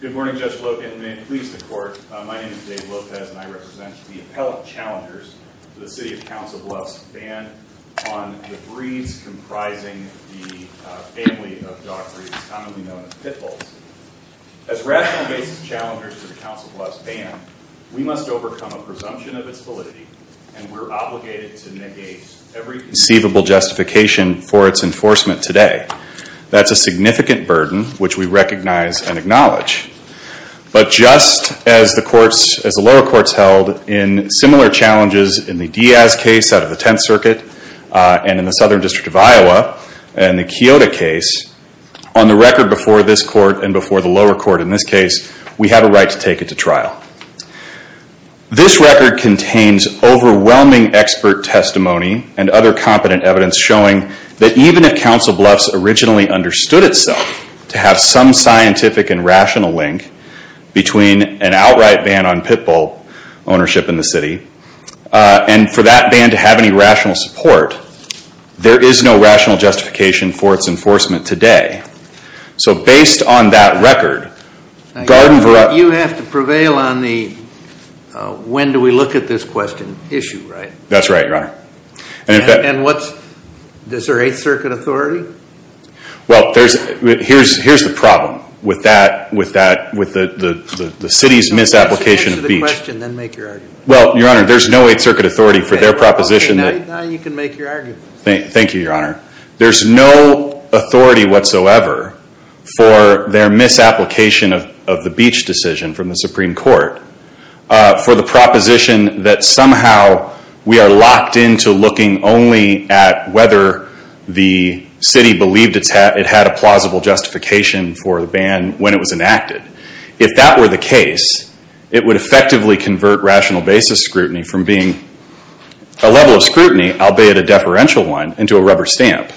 Good morning, Judge Logan, and may it please the court, my name is Dave Lopez and I represent the appellate challengers to the City of Council Bluffs ban on the breeds comprising the family of dog breeds commonly known as pit bulls. As rational basis challengers to the Council Bluffs ban, we must overcome a presumption of its validity and we're obligated to negate every conceivable justification for its enforcement today. That's a significant burden which we recognize and acknowledge. But just as the courts, as the lower courts held in similar challenges in the Diaz case out of the Tenth Circuit and in the Southern District of Iowa and the Kyoto case, on the record before this court and before the lower court in this case, we have a right to take it to trial. This record contains overwhelming expert testimony and other competent evidence showing that even if Council Bluffs originally understood itself to have some scientific and rational link between an outright ban on pit bull ownership in the city and for that ban to have any rational support, there is no rational justification for its enforcement today. So based on that record, Gardenville... You have to prevail on the when do we look at this question issue, right? That's right, Your Honor. And what's... Is there 8th Circuit authority? Well, here's the problem with that, with the city's misapplication of each... Answer the question then make your argument. Well, Your Honor, there's no 8th Circuit authority for their proposition that... Okay, now you can make your argument. Thank you, Your Honor. There's no authority whatsoever for their misapplication of the beach decision from the Supreme Court for the proposition that somehow we are locked into looking only at whether the city believed it had a plausible justification for the ban when it was enacted. If that were the case, it would effectively convert rational basis scrutiny from being a level of scrutiny albeit a deferential one into a rubber stamp.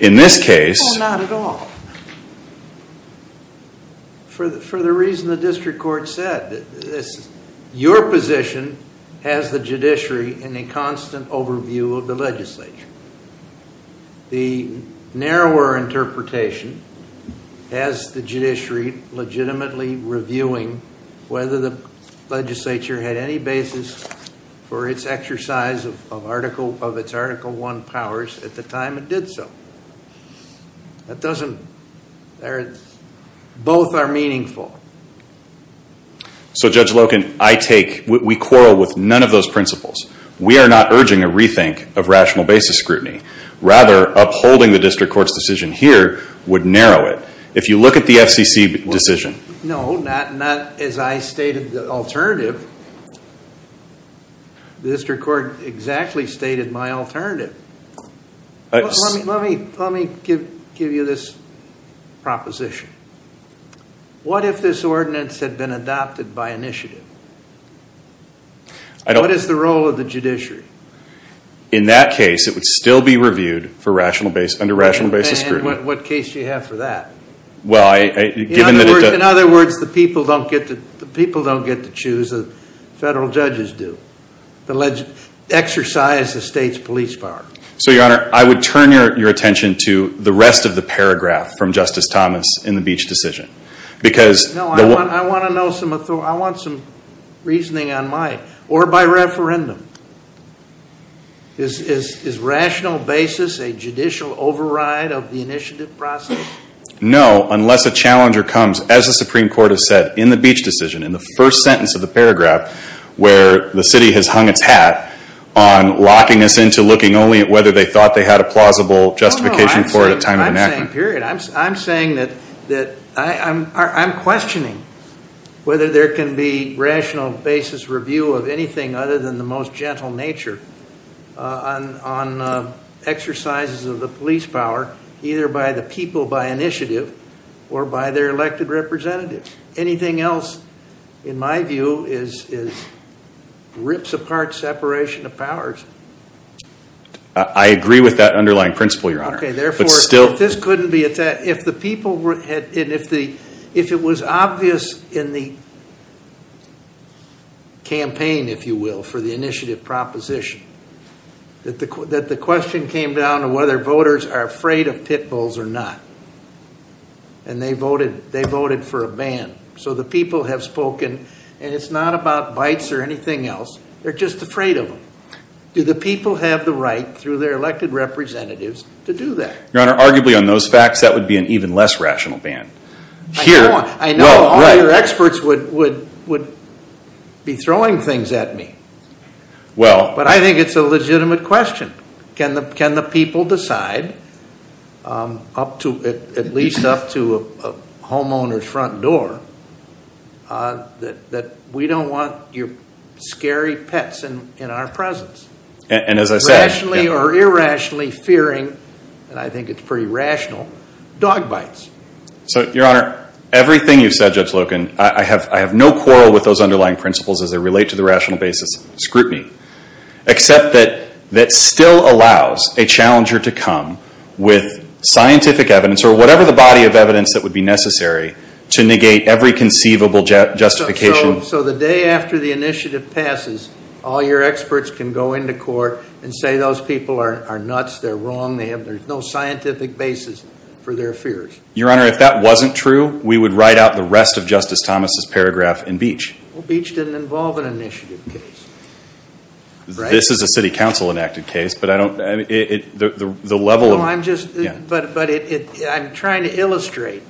In this case... No, not at all. For the reason the district court said, your position has the judiciary in a constant overview of the legislature. The narrower interpretation has the judiciary legitimately reviewing whether the legislature had any basis for its exercise of its Article 1 powers at the time it did so. That doesn't... Both are meaningful. So Judge Loken, I take... We quarrel with none of those principles. We are not urging a rethink of rational basis scrutiny. Rather, upholding the district court's decision here would narrow it. If you look at the FCC decision... No, not as I stated the alternative. The district court exactly stated my alternative. Let me give you this proposition. What if this ordinance had been adopted by initiative? What is the role of the judiciary? In that case, it would still be reviewed under rational basis scrutiny. What case do you have for that? In other words, the people don't get to choose, the federal judges do, to exercise the state's police power. So, your honor, I would turn your attention to the rest of the paragraph from Justice Thomas in the Beach decision. Because... No, I want some reasoning on my... Or by referendum. Is rational basis a judicial override of the initiative process? No, unless a challenger comes, as the Supreme Court has said, in the Beach decision, in the first sentence of the paragraph, where the city has hung its hat on locking us into looking only at whether they thought they had a plausible justification for it at time of enactment. No, no, I'm saying period. I'm saying that I'm questioning whether there can be rational basis review of anything other than the most gentle nature on exercises of the police power, either by the people by initiative or by their elected representatives. Anything else, in my view, is rips apart separation of powers. I agree with that underlying principle, your honor. Okay, therefore... But still... If it was obvious in the campaign, if you will, for the initiative proposition, that the question came down to whether voters are afraid of pit bulls or not, and they voted for a ban. So the people have spoken, and it's not about bites or anything else. They're just afraid of them. Do the people have the right, through their elected representatives, to do that? Your honor, arguably on those facts, that would be an even less rational ban. I know all your experts would be throwing things at me. But I think it's a legitimate question. Can the people decide, at least up to a homeowner's front door, that we don't want your scary pets in our presence? And as I said... Rationally or irrationally fearing, and I think it's pretty rational, dog bites. So your honor, everything you've said, Judge Loken, I have no quarrel with those underlying principles as they relate to the rational basis of scrutiny, except that that still allows a challenger to come with scientific evidence or whatever the body of evidence that would be necessary to negate every conceivable justification. So the day after the initiative passes, all your experts can go into court and say those people are nuts, they're wrong, there's no scientific basis for their fears. Your honor, if that wasn't true, we would write out the rest of Justice Thomas's paragraph in Beach. Beach didn't involve an initiative case. This is a city council enacted case, but I don't... I'm trying to illustrate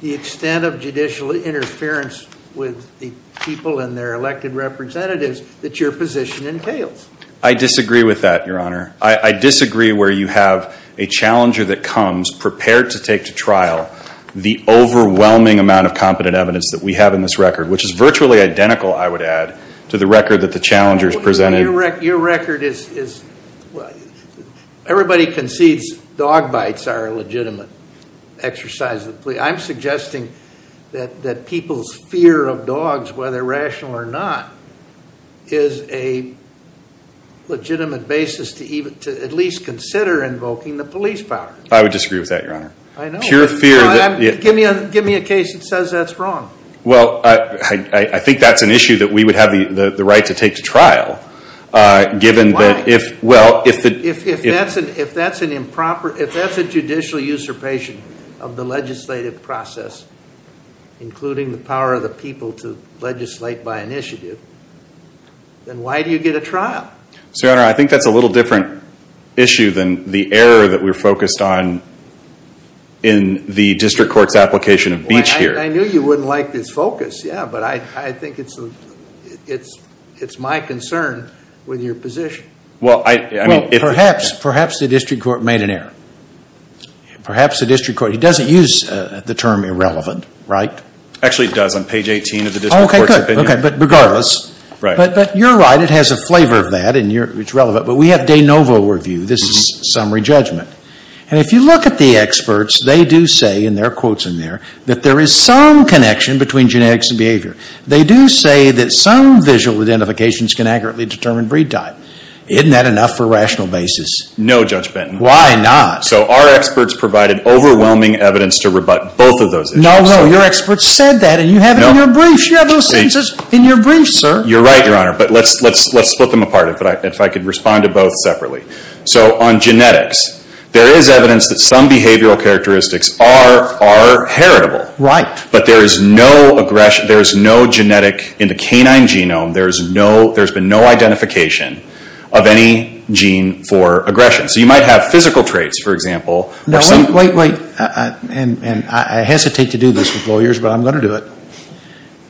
the extent of judicial interference with the people and their elected representatives that your position entails. I disagree with that, your honor. I disagree where you have a challenger that comes prepared to take to trial the overwhelming amount of competent evidence that we have in this record, which is virtually identical, I would add, to the record that the challengers presented. Your record is... Everybody concedes dog bites are a legitimate exercise of the plea. I'm suggesting that people's fear of dogs, whether rational or not, is a legitimate basis to at least consider invoking the police power. I would disagree with that, your honor. I know. Pure fear that... Give me a case that says that's wrong. Well, I think that's an issue that we would have the right to take to trial, given that... Why? Well, if the... If that's an improper... If that's a judicial usurpation of the legislative process, including the power of the people to legislate by initiative, then why do you get a trial? Your honor, I think that's a little different issue than the error that we're focused on in the district court's application of Beach here. I knew you wouldn't like this focus, yeah, but I think it's my concern with your position. Well, I... Well, perhaps the district court made an error. Perhaps the district court... He doesn't use the term irrelevant, right? Actually, he does on page 18 of the district court's opinion. Okay, good. Okay, but regardless... Right. But you're right. It has a flavor of that, and it's relevant. But we have de novo review. This is summary judgment, and if you look at the experts, they do say, and there are some connections between genetics and behavior. They do say that some visual identifications can accurately determine breed type. Isn't that enough for a rational basis? No, Judge Benton. Why not? So our experts provided overwhelming evidence to rebut both of those issues. No, no. Your experts said that, and you have it in your briefs. You have those sentences in your briefs, sir. You're right, your honor. But let's split them apart, if I could respond to both separately. So on genetics, there is evidence that some behavioral characteristics are heritable. Right. But there is no genetic, in the canine genome, there's been no identification of any gene for aggression. So you might have physical traits, for example. No, wait, wait, wait. And I hesitate to do this with lawyers, but I'm going to do it.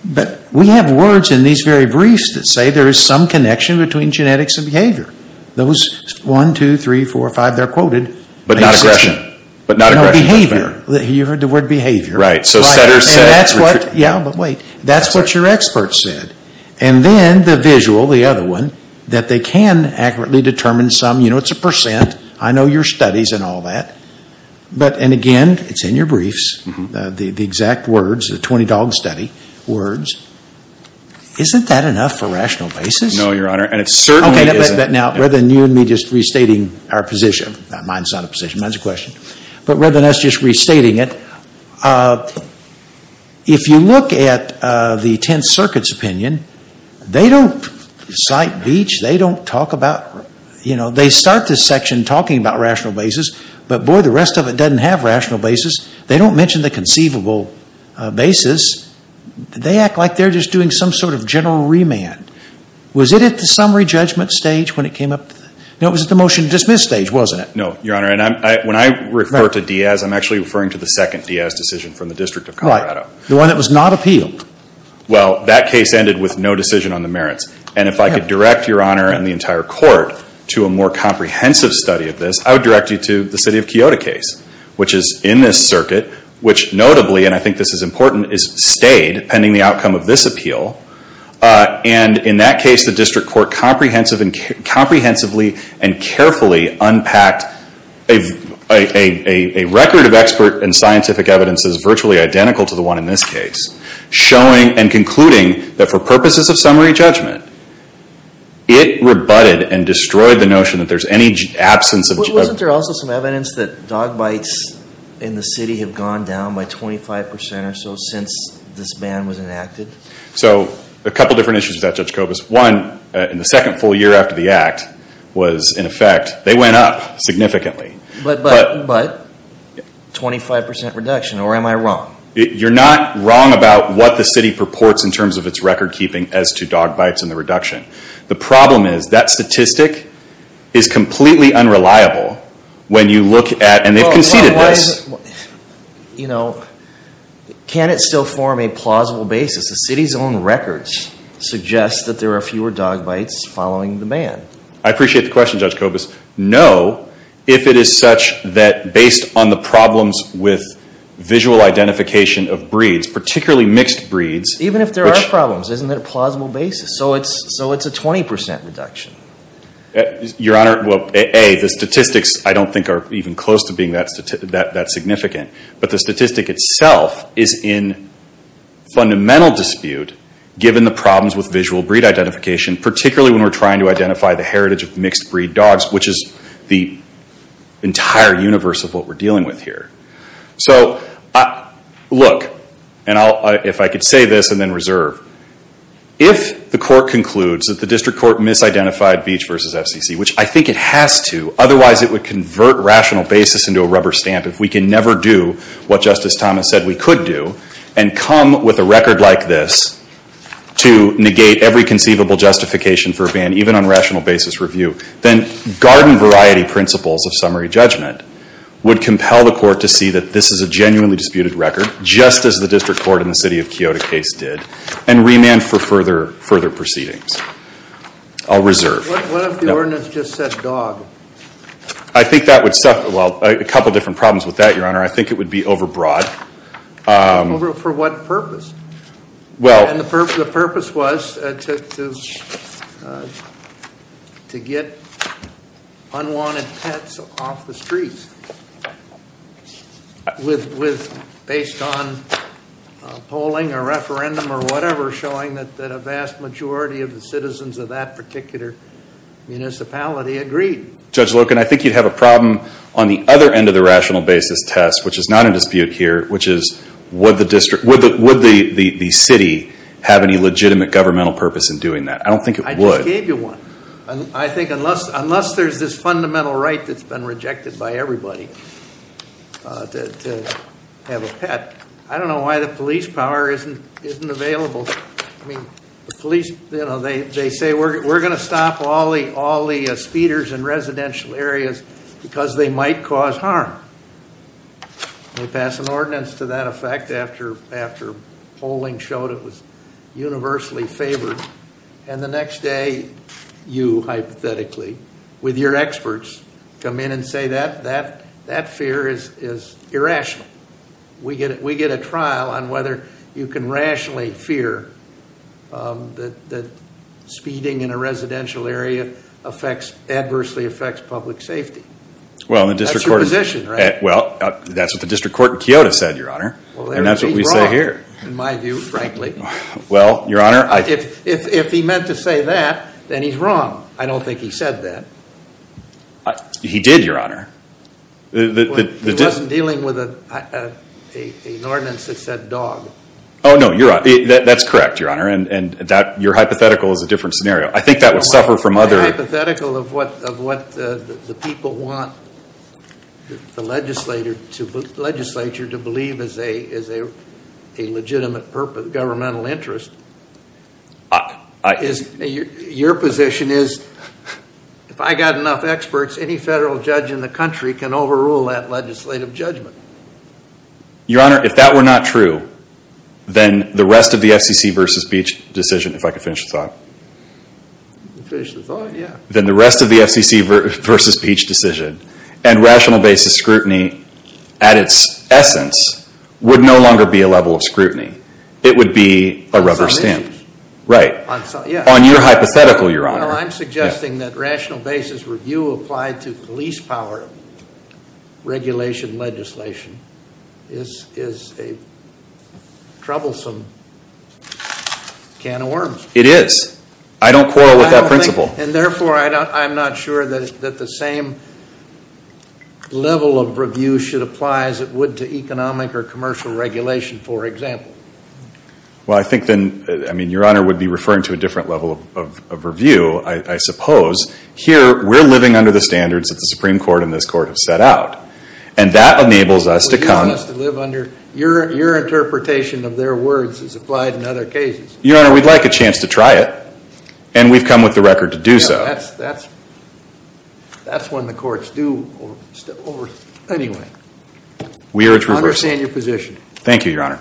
But we have words in these very briefs that say there is some connection between genetics and behavior. Those 1, 2, 3, 4, 5, they're quoted. But not aggression. But not aggression. No, behavior. You heard the word behavior. Right. So Setter said... Yeah, but wait. That's what your experts said. And then the visual, the other one, that they can accurately determine some, you know, it's a percent. I know your studies and all that. But and again, it's in your briefs, the exact words, the 20-dog study words. Isn't that enough for rational basis? No, your honor. And it certainly isn't. Okay, but now, rather than you and me just restating our position, mine's not a position, mine's a question. But rather than us just restating it, if you look at the 10th Circuit's opinion, they don't cite Beach. They don't talk about, you know, they start this section talking about rational basis. But boy, the rest of it doesn't have rational basis. They don't mention the conceivable basis. They act like they're just doing some sort of general remand. Was it at the summary judgment stage when it came up? No, it was at the motion to dismiss stage, wasn't it? No, your honor. And when I refer to Diaz, I'm actually referring to the second Diaz decision from the District of Colorado. Right. The one that was not appealed. Well, that case ended with no decision on the merits. And if I could direct your honor and the entire court to a more comprehensive study of this, I would direct you to the city of Kyoto case, which is in this circuit, which notably, and I think this is important, is stayed pending the outcome of this appeal. And in that case, the district court comprehensively and carefully unpacked a record of expert and scientific evidence that is virtually identical to the one in this case, showing and concluding that for purposes of summary judgment, it rebutted and destroyed the notion that there's any absence of... Wasn't there also some evidence that dog bites in the city have gone down by 25% or so since this ban was enacted? So, a couple of different issues with that, Judge Kobus. One, in the second full year after the act was in effect, they went up significantly. But 25% reduction, or am I wrong? You're not wrong about what the city purports in terms of its record keeping as to dog bites in the reduction. The problem is that statistic is completely unreliable when you look at, and they've conceded this. Well, you know, can it still form a plausible basis? The city's own records suggest that there are fewer dog bites following the ban. I appreciate the question, Judge Kobus. No, if it is such that based on the problems with visual identification of breeds, particularly mixed breeds... Even if there are problems, isn't it a plausible basis? So it's a 20% reduction. Your Honor, well, A, the statistics I don't think are even close to being that significant. But the statistic itself is in fundamental dispute given the problems with visual breed identification, particularly when we're trying to identify the heritage of mixed breed dogs, which is the entire universe of what we're dealing with here. So look, and if I could say this and then reserve. If the court concludes that the district court misidentified Beach versus FCC, which I think it has to, otherwise it would convert rational basis into a rubber stamp if we can never do what Justice Thomas said we could do and come with a record like this to negate every conceivable justification for a ban, even on rational basis review, then garden variety principles of summary judgment would compel the court to see that this is a genuinely and remand for further proceedings. I'll reserve. What if the ordinance just said dog? I think that would suffer... Well, a couple of different problems with that, Your Honor. I think it would be overbroad. For what purpose? Well... And the purpose was to get unwanted pets off the streets based on polling or referendum or whatever showing that a vast majority of the citizens of that particular municipality agreed. Judge Loken, I think you'd have a problem on the other end of the rational basis test, which is not in dispute here, which is would the city have any legitimate governmental purpose in doing that? I don't think it would. I just gave you one. I think unless there's this fundamental right that's been rejected by everybody to have a pet. I don't know why the police power isn't available. I mean, the police, you know, they say we're going to stop all the speeders in residential areas because they might cause harm. They pass an ordinance to that effect after polling showed it was universally favored. And the next day, you hypothetically, with your experts, come in and say that fear is irrational. We get a trial on whether you can rationally fear that speeding in a residential area adversely affects public safety. That's your position, right? Well, that's what the district court in Kyoto said, Your Honor. And that's what we say here. Well, then he's wrong, in my view, frankly. Well, Your Honor, I... If he meant to say that, then he's wrong. I don't think he said that. He did, Your Honor. He wasn't dealing with an ordinance that said dog. Oh, no. You're right. That's correct, Your Honor. And your hypothetical is a different scenario. I think that would suffer from other... The hypothetical of what the people want the legislature to believe is a legitimate governmental interest, your position is, if I got enough experts, any federal judge in the country can overrule that legislative judgment. Your Honor, if that were not true, then the rest of the FCC versus Beach decision, if I could finish the thought. Finish the thought, yeah. Then the rest of the FCC versus Beach decision and rational basis scrutiny at its essence would no longer be a level of scrutiny. It would be a rubber stamp. On some issues. Right. On some, yeah. On your hypothetical, Your Honor. Well, I'm suggesting that rational basis review applied to police power regulation legislation is a troublesome can of worms. It is. I don't quarrel with that principle. And therefore, I'm not sure that the same level of review should apply as it would to economic or commercial regulation, for example. Well, I think then, I mean, Your Honor would be referring to a different level of review, I suppose. Here, we're living under the standards that the Supreme Court and this Court have set out. And that enables us to come. Your interpretation of their words is applied in other cases. Your Honor, we'd like a chance to try it. And we've come with the record to do so. That's when the courts do over, anyway. We urge reversal. I understand your position. Thank you, Your Honor.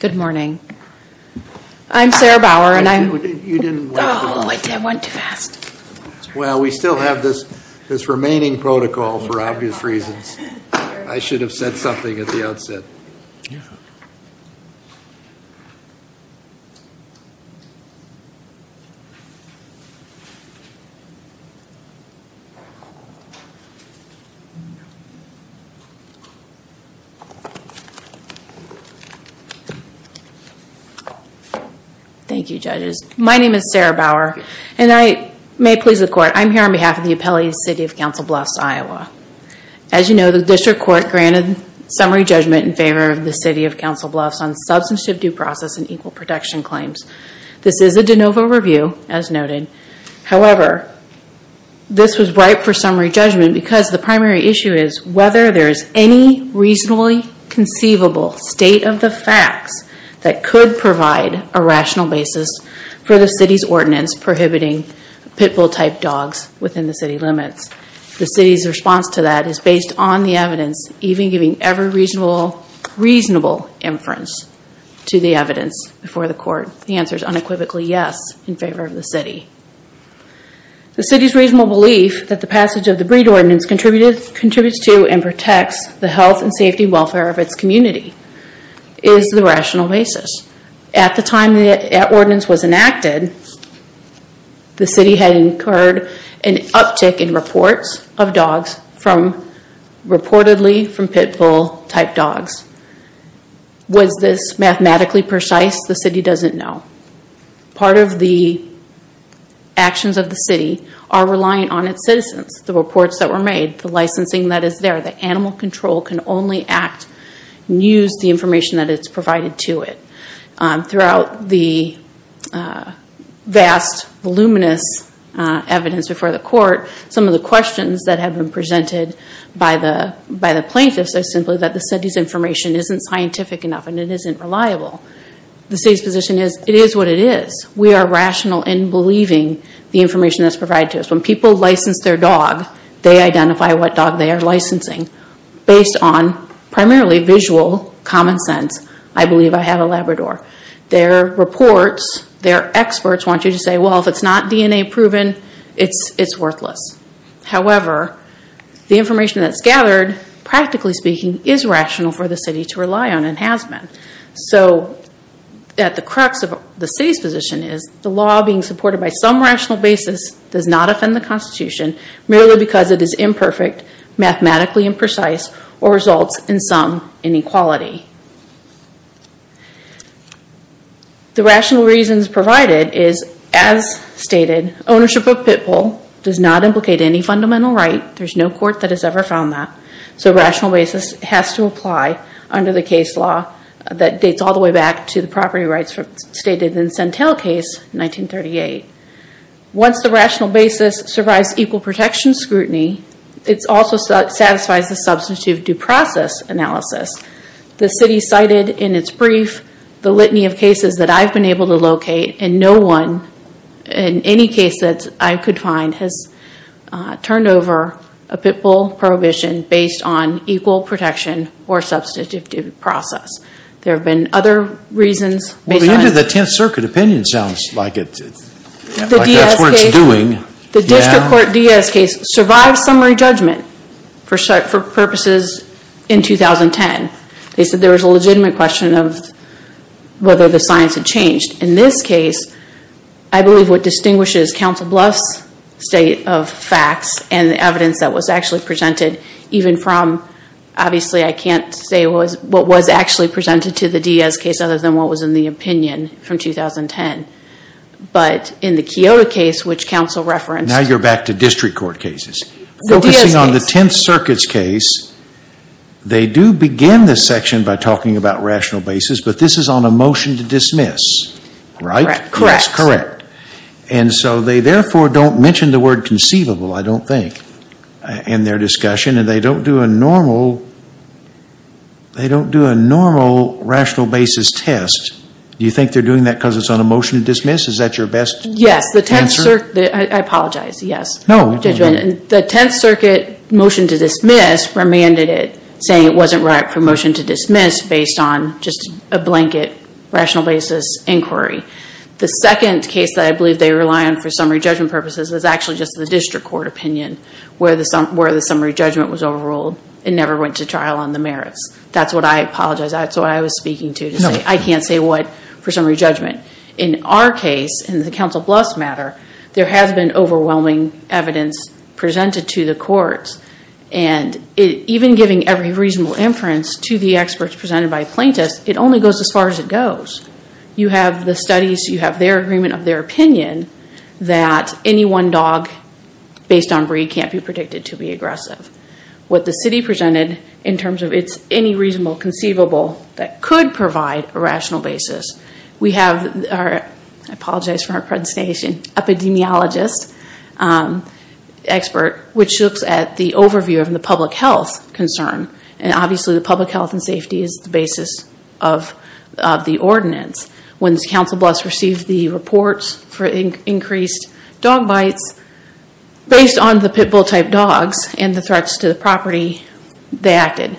Good morning. I'm Sarah Bauer. And I'm... You didn't... Oh, I went too fast. Well, we still have this remaining protocol, for obvious reasons. I should have said something at the outset. Yeah. Thank you. Thank you, Judges. My name is Sarah Bauer. And I... May it please the Court. I'm here on behalf of the appellate of the City of Council Bluffs, Iowa. As you know, the District Court granted summary judgment in favor of the City of Council Bluffs on substantive due process and equal protection claims. This is a de novo review, as noted. However, this was ripe for summary judgment because the primary issue is whether there is any reasonably conceivable state of the facts that could provide a rational basis for the City's ordinance prohibiting pit bull-type dogs within the City limits. The City's response to that is based on the evidence, even giving every reasonable inference to the evidence before the Court. The answer is unequivocally yes in favor of the City. The City's reasonable belief that the passage of the Breed Ordinance contributes to and protects the health and safety and welfare of its community is the rational basis. At the time the ordinance was enacted, the City had incurred an uptick in reports of dogs from, reportedly, from pit bull-type dogs. Was this mathematically precise? The City doesn't know. Part of the actions of the City are reliant on its citizens. The reports that were made, the licensing that is there, the animal control can only act and use the information that is provided to it. Throughout the vast, voluminous evidence before the Court, some of the questions that have been presented by the plaintiffs are simply that the City's information isn't scientific enough and it isn't reliable. The City's position is it is what it is. We are rational in believing the information that is provided to us. When people license their dog, they identify what dog they are licensing based on primarily visual common sense. I believe I have a Labrador. Their reports, their experts want you to say, well, if it's not DNA proven, it's worthless. However, the information that's gathered, practically speaking, is rational for the City to rely on and has been. At the crux of the City's position is the law being supported by some rational basis does not offend the Constitution merely because it is imperfect, mathematically imprecise, or results in some inequality. The rational reasons provided is, as stated, ownership of Pitbull does not implicate any fundamental right. There is no Court that has ever found that. So rational basis has to apply under the case law that dates all the way back to the property rights stated in the Centel case in 1938. Once the rational basis survives equal protection scrutiny, it also satisfies the Substantive Due Process analysis. The City cited in its brief the litany of cases that I have been able to locate and no one, in any case that I could find, has turned over a Pitbull prohibition based on equal protection or Substantive Due Process. There have been other reasons based on... The district court Diaz case survived summary judgment for purposes in 2010. They said there was a legitimate question of whether the science had changed. In this case, I believe what distinguishes Council Bluff's state of facts and the evidence that was actually presented, even from, obviously I can't say what was actually presented to the Diaz case other than what was in the opinion from 2010, but in the Kyoto case which Council referenced... Now you're back to district court cases. The Diaz case... Focusing on the Tenth Circuit's case, they do begin this section by talking about rational basis, but this is on a motion to dismiss, right? Correct. Yes, correct. And so they therefore don't mention the word conceivable, I don't think, in their discussion and they don't do a normal, they don't do a normal rational basis test. Do you think they're doing that because it's on a motion to dismiss? Is that your best answer? Yes. The Tenth Circuit... I apologize. Yes. No. Judgment. The Tenth Circuit motion to dismiss remanded it, saying it wasn't right for a motion to dismiss based on just a blanket rational basis inquiry. The second case that I believe they rely on for summary judgment purposes is actually just the district court opinion, where the summary judgment was overruled and never went to trial on the merits. That's what I apologize. That's what I was speaking to, to say I can't say what for summary judgment. In our case, in the Council Bluffs matter, there has been overwhelming evidence presented to the courts and even giving every reasonable inference to the experts presented by plaintiffs, it only goes as far as it goes. You have the studies. You have their agreement of their opinion that any one dog based on breed can't be predicted to be aggressive. What the city presented in terms of it's any reasonable conceivable that could provide a rational basis. We have our, I apologize for my pronunciation, epidemiologist expert, which looks at the overview of the public health concern. Obviously, the public health and safety is the basis of the ordinance. When this Council Bluffs received the reports for increased dog bites, based on the pit bull type dogs and the threats to the property, they acted.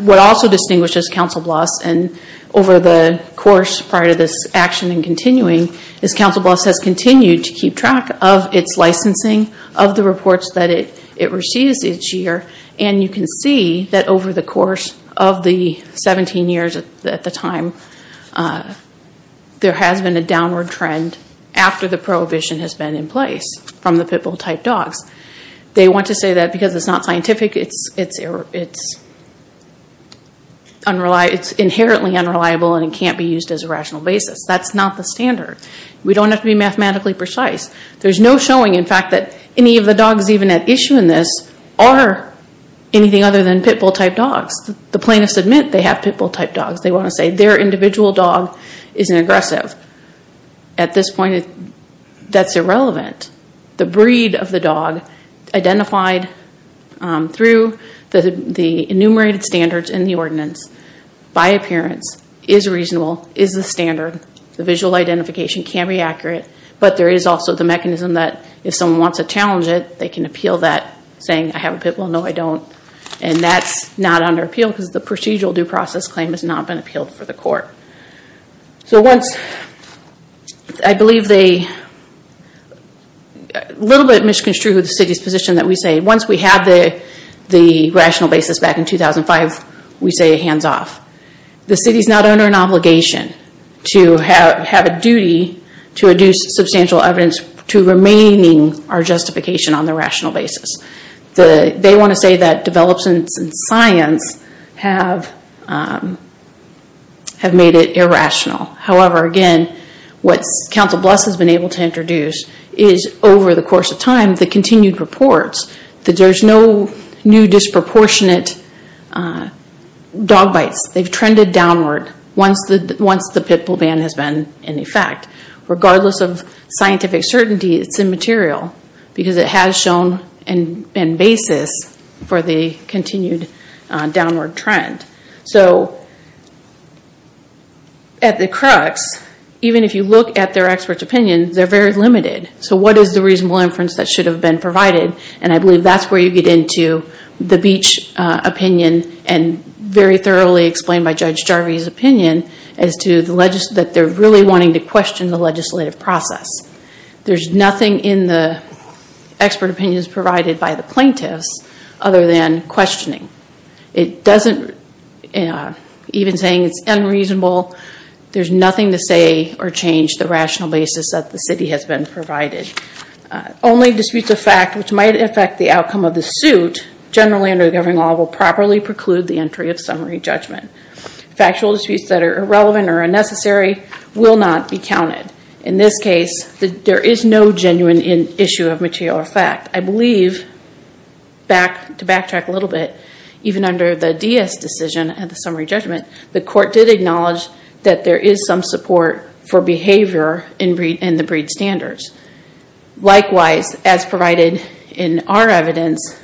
What also distinguishes Council Bluffs and over the course prior to this action and continuing, is Council Bluffs has continued to keep track of it's licensing, of the reports that it can see that over the course of the 17 years at the time, there has been a downward trend after the prohibition has been in place from the pit bull type dogs. They want to say that because it's not scientific, it's inherently unreliable and it can't be used as a rational basis. That's not the standard. We don't have to be mathematically precise. There's no showing, in fact, that any of the dogs even at issue in this are anything other than pit bull type dogs. The plaintiffs admit they have pit bull type dogs. They want to say their individual dog isn't aggressive. At this point, that's irrelevant. The breed of the dog identified through the enumerated standards in the ordinance by appearance is reasonable, is the standard. The visual identification can be accurate, but there is also the mechanism that if someone wants to challenge it, they can appeal that saying, I have a pit bull, no I don't. And that's not under appeal because the procedural due process claim has not been appealed for the court. So once, I believe they, a little bit misconstrued with the city's position that we say, once we have the rational basis back in 2005, we say hands off. The city's not under an obligation to have a duty to reduce substantial evidence to remaining our justification on the rational basis. They want to say that developments in science have made it irrational. However, again, what Council Bluffs has been able to introduce is over the course of time, the continued reports, that there's no new disproportionate dog bites. They've trended downward once the pit bull ban has been in effect. Regardless of scientific certainty, it's immaterial because it has shown and been basis for the continued downward trend. So at the crux, even if you look at their expert's opinion, they're very limited. So what is the reasonable inference that should have been provided? And I believe that's where you get into the Beach opinion and very thoroughly explained by Judge Jarvie's opinion as to that they're really wanting to question the legislative process. There's nothing in the expert opinions provided by the plaintiffs other than questioning. It doesn't, even saying it's unreasonable, there's nothing to say or change the rational basis provided. Only disputes of fact which might affect the outcome of the suit, generally under the Governing Law, will properly preclude the entry of summary judgment. Factual disputes that are irrelevant or unnecessary will not be counted. In this case, there is no genuine issue of material fact. I believe, to backtrack a little bit, even under the Diaz decision of the summary judgment, the court did acknowledge that there is some support for behavior in the breed standards. Likewise, as provided in our evidence,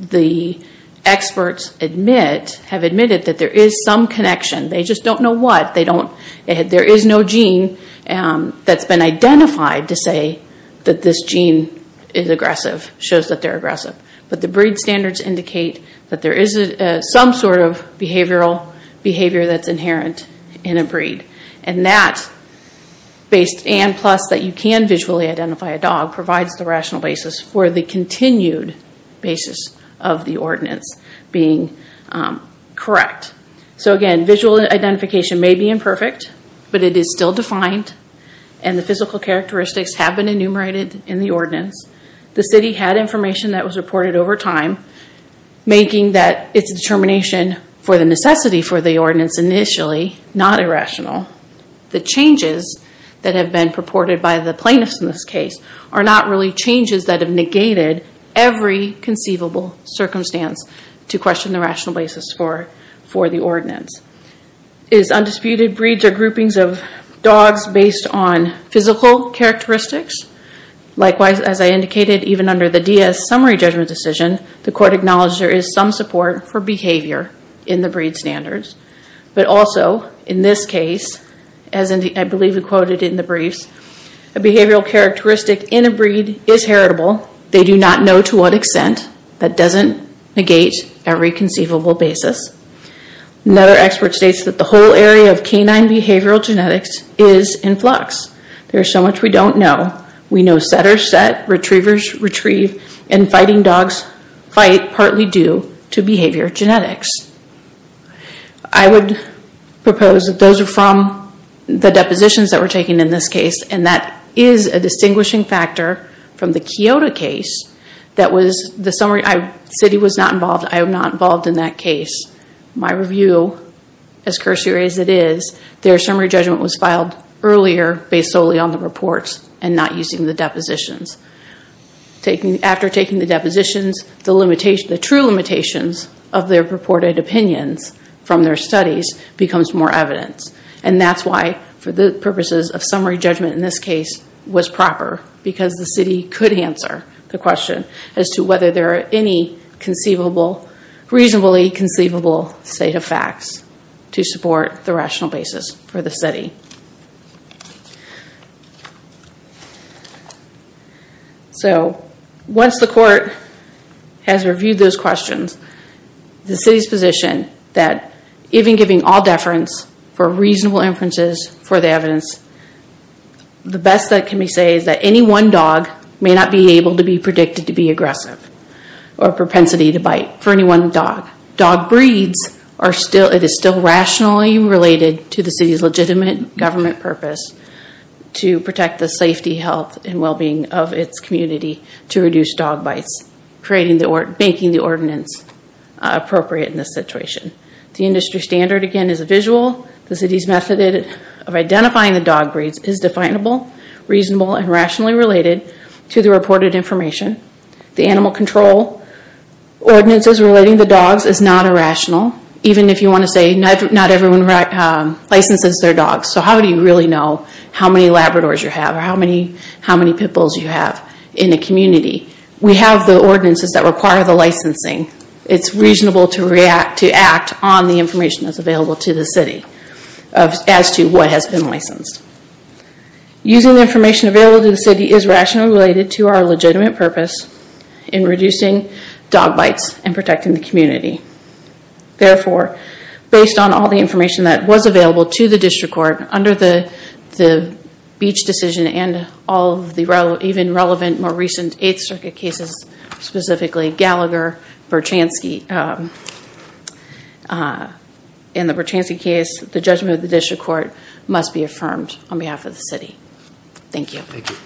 the experts have admitted that there is some connection. They just don't know what. There is no gene that's been identified to say that this gene is aggressive, shows that they're aggressive. The breed standards indicate that there is some sort of behavioral behavior that's inherent in a breed. That, based and plus that you can visually identify a dog, provides the rational basis for the continued basis of the ordinance being correct. Again, visual identification may be imperfect, but it is still defined and the physical characteristics have been enumerated in the ordinance. The city had information that was reported over time, making that it's a determination for the necessity for the ordinance initially, not irrational. The changes that have been purported by the plaintiffs in this case are not really changes that have negated every conceivable circumstance to question the rational basis for the ordinance. Is undisputed breeds or groupings of dogs based on physical characteristics? Likewise, as I indicated, even under the DS summary judgment decision, the court acknowledged there is some support for behavior in the breed standards. But also, in this case, as I believe we quoted in the briefs, a behavioral characteristic in a breed is heritable. They do not know to what extent. That doesn't negate every conceivable basis. Another expert states that the whole area of canine behavioral genetics is in flux. There is so much we don't know. We know setter set, retrievers retrieve, and fighting dogs fight partly due to behavior genetics. I would propose that those are from the depositions that were taken in this case, and that is a distinguishing factor from the Kyoto case. That was the summary, the city was not involved, I am not involved in that case. My review, as cursory as it is, their summary judgment was filed earlier based solely on the reports and not using the depositions. After taking the depositions, the true limitations of their purported opinions from their studies becomes more evidence. That's why, for the purposes of summary judgment in this case, was proper because the city could answer the question as to whether there are any reasonably conceivable state of facts to support the rational basis for the study. Once the court has reviewed those questions, the city's position that even giving all deference for reasonable inferences for the evidence, the best that can be said is that any one dog may not be able to be predicted to be aggressive or propensity to bite for any one dog. Dog breeds, it is still rationally related to the city's legitimate government purpose to protect the safety, health, and well-being of its community to reduce dog bites, making the ordinance appropriate in this situation. The industry standard, again, is a visual. The city's method of identifying the dog breeds is definable, reasonable, and rationally related to the reported information. The animal control ordinances relating to dogs is not irrational, even if you want to say not everyone licenses their dogs. So how do you really know how many Labradors you have or how many Pit Bulls you have in a community? We have the ordinances that require the licensing. It's reasonable to act on the information that's available to the city as to what has been licensed. Using the information available to the city is rationally related to our legitimate purpose in reducing dog bites and protecting the community. Therefore, based on all the information that was available to the district court under the Beach decision and all of the even relevant more recent 8th Circuit cases, specifically Gallagher, Berchanski, in the Berchanski case, the judgment of the district court must be affirmed on behalf of the city. Thank you. Thank you.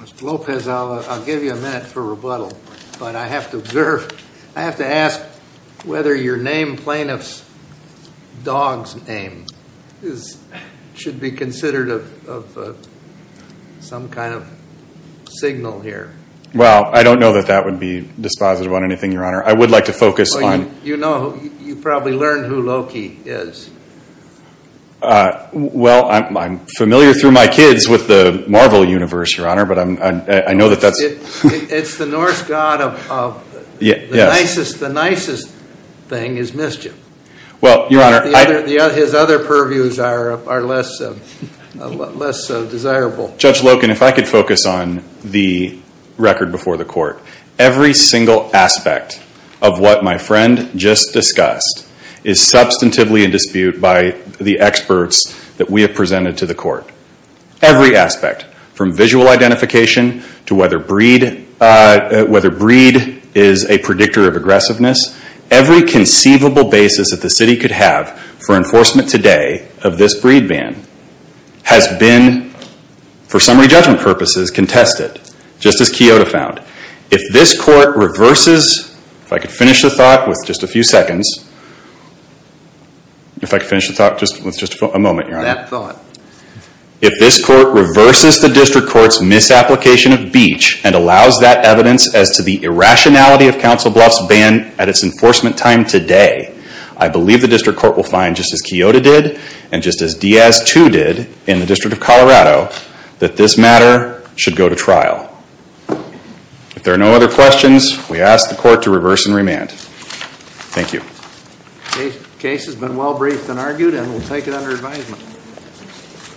Mr. Lopez, I'll give you a minute for rebuttal, but I have to observe, I have to ask whether your name, plaintiff's dog's name, should be considered some kind of signal here. Well, I don't know that that would be dispositive on anything, Your Honor. I would like to focus on... You know, you probably learned who Loki is. Well, I'm familiar through my kids with the Marvel universe, Your Honor, but I know that that's... It's the Norse god of... The nicest thing is mischief. Well, Your Honor... His other purviews are less desirable. Judge Loken, if I could focus on the record before the court. Every single aspect of what my friend just discussed is substantively in dispute by the experts that we have presented to the court. Every aspect, from visual identification to whether breed is a predictor of aggressiveness. Every conceivable basis that the city could have for enforcement today of this breed ban has been, for summary judgment purposes, contested, just as Kyoto found. If this court reverses, if I could finish the thought with just a few seconds. If I could finish the thought with just a moment, Your Honor. If this court reverses the district court's misapplication of Beach and allows that evidence as to the irrationality of Council Bluff's ban at its enforcement time today, I believe the district court will find, just as Kyoto did, and just as Diaz, too, did in the District of Colorado, that this matter should go to trial. If there are no other questions, we ask the court to reverse and remand. Thank you. Case has been well briefed and argued, and we'll take it under advisement. Thank you.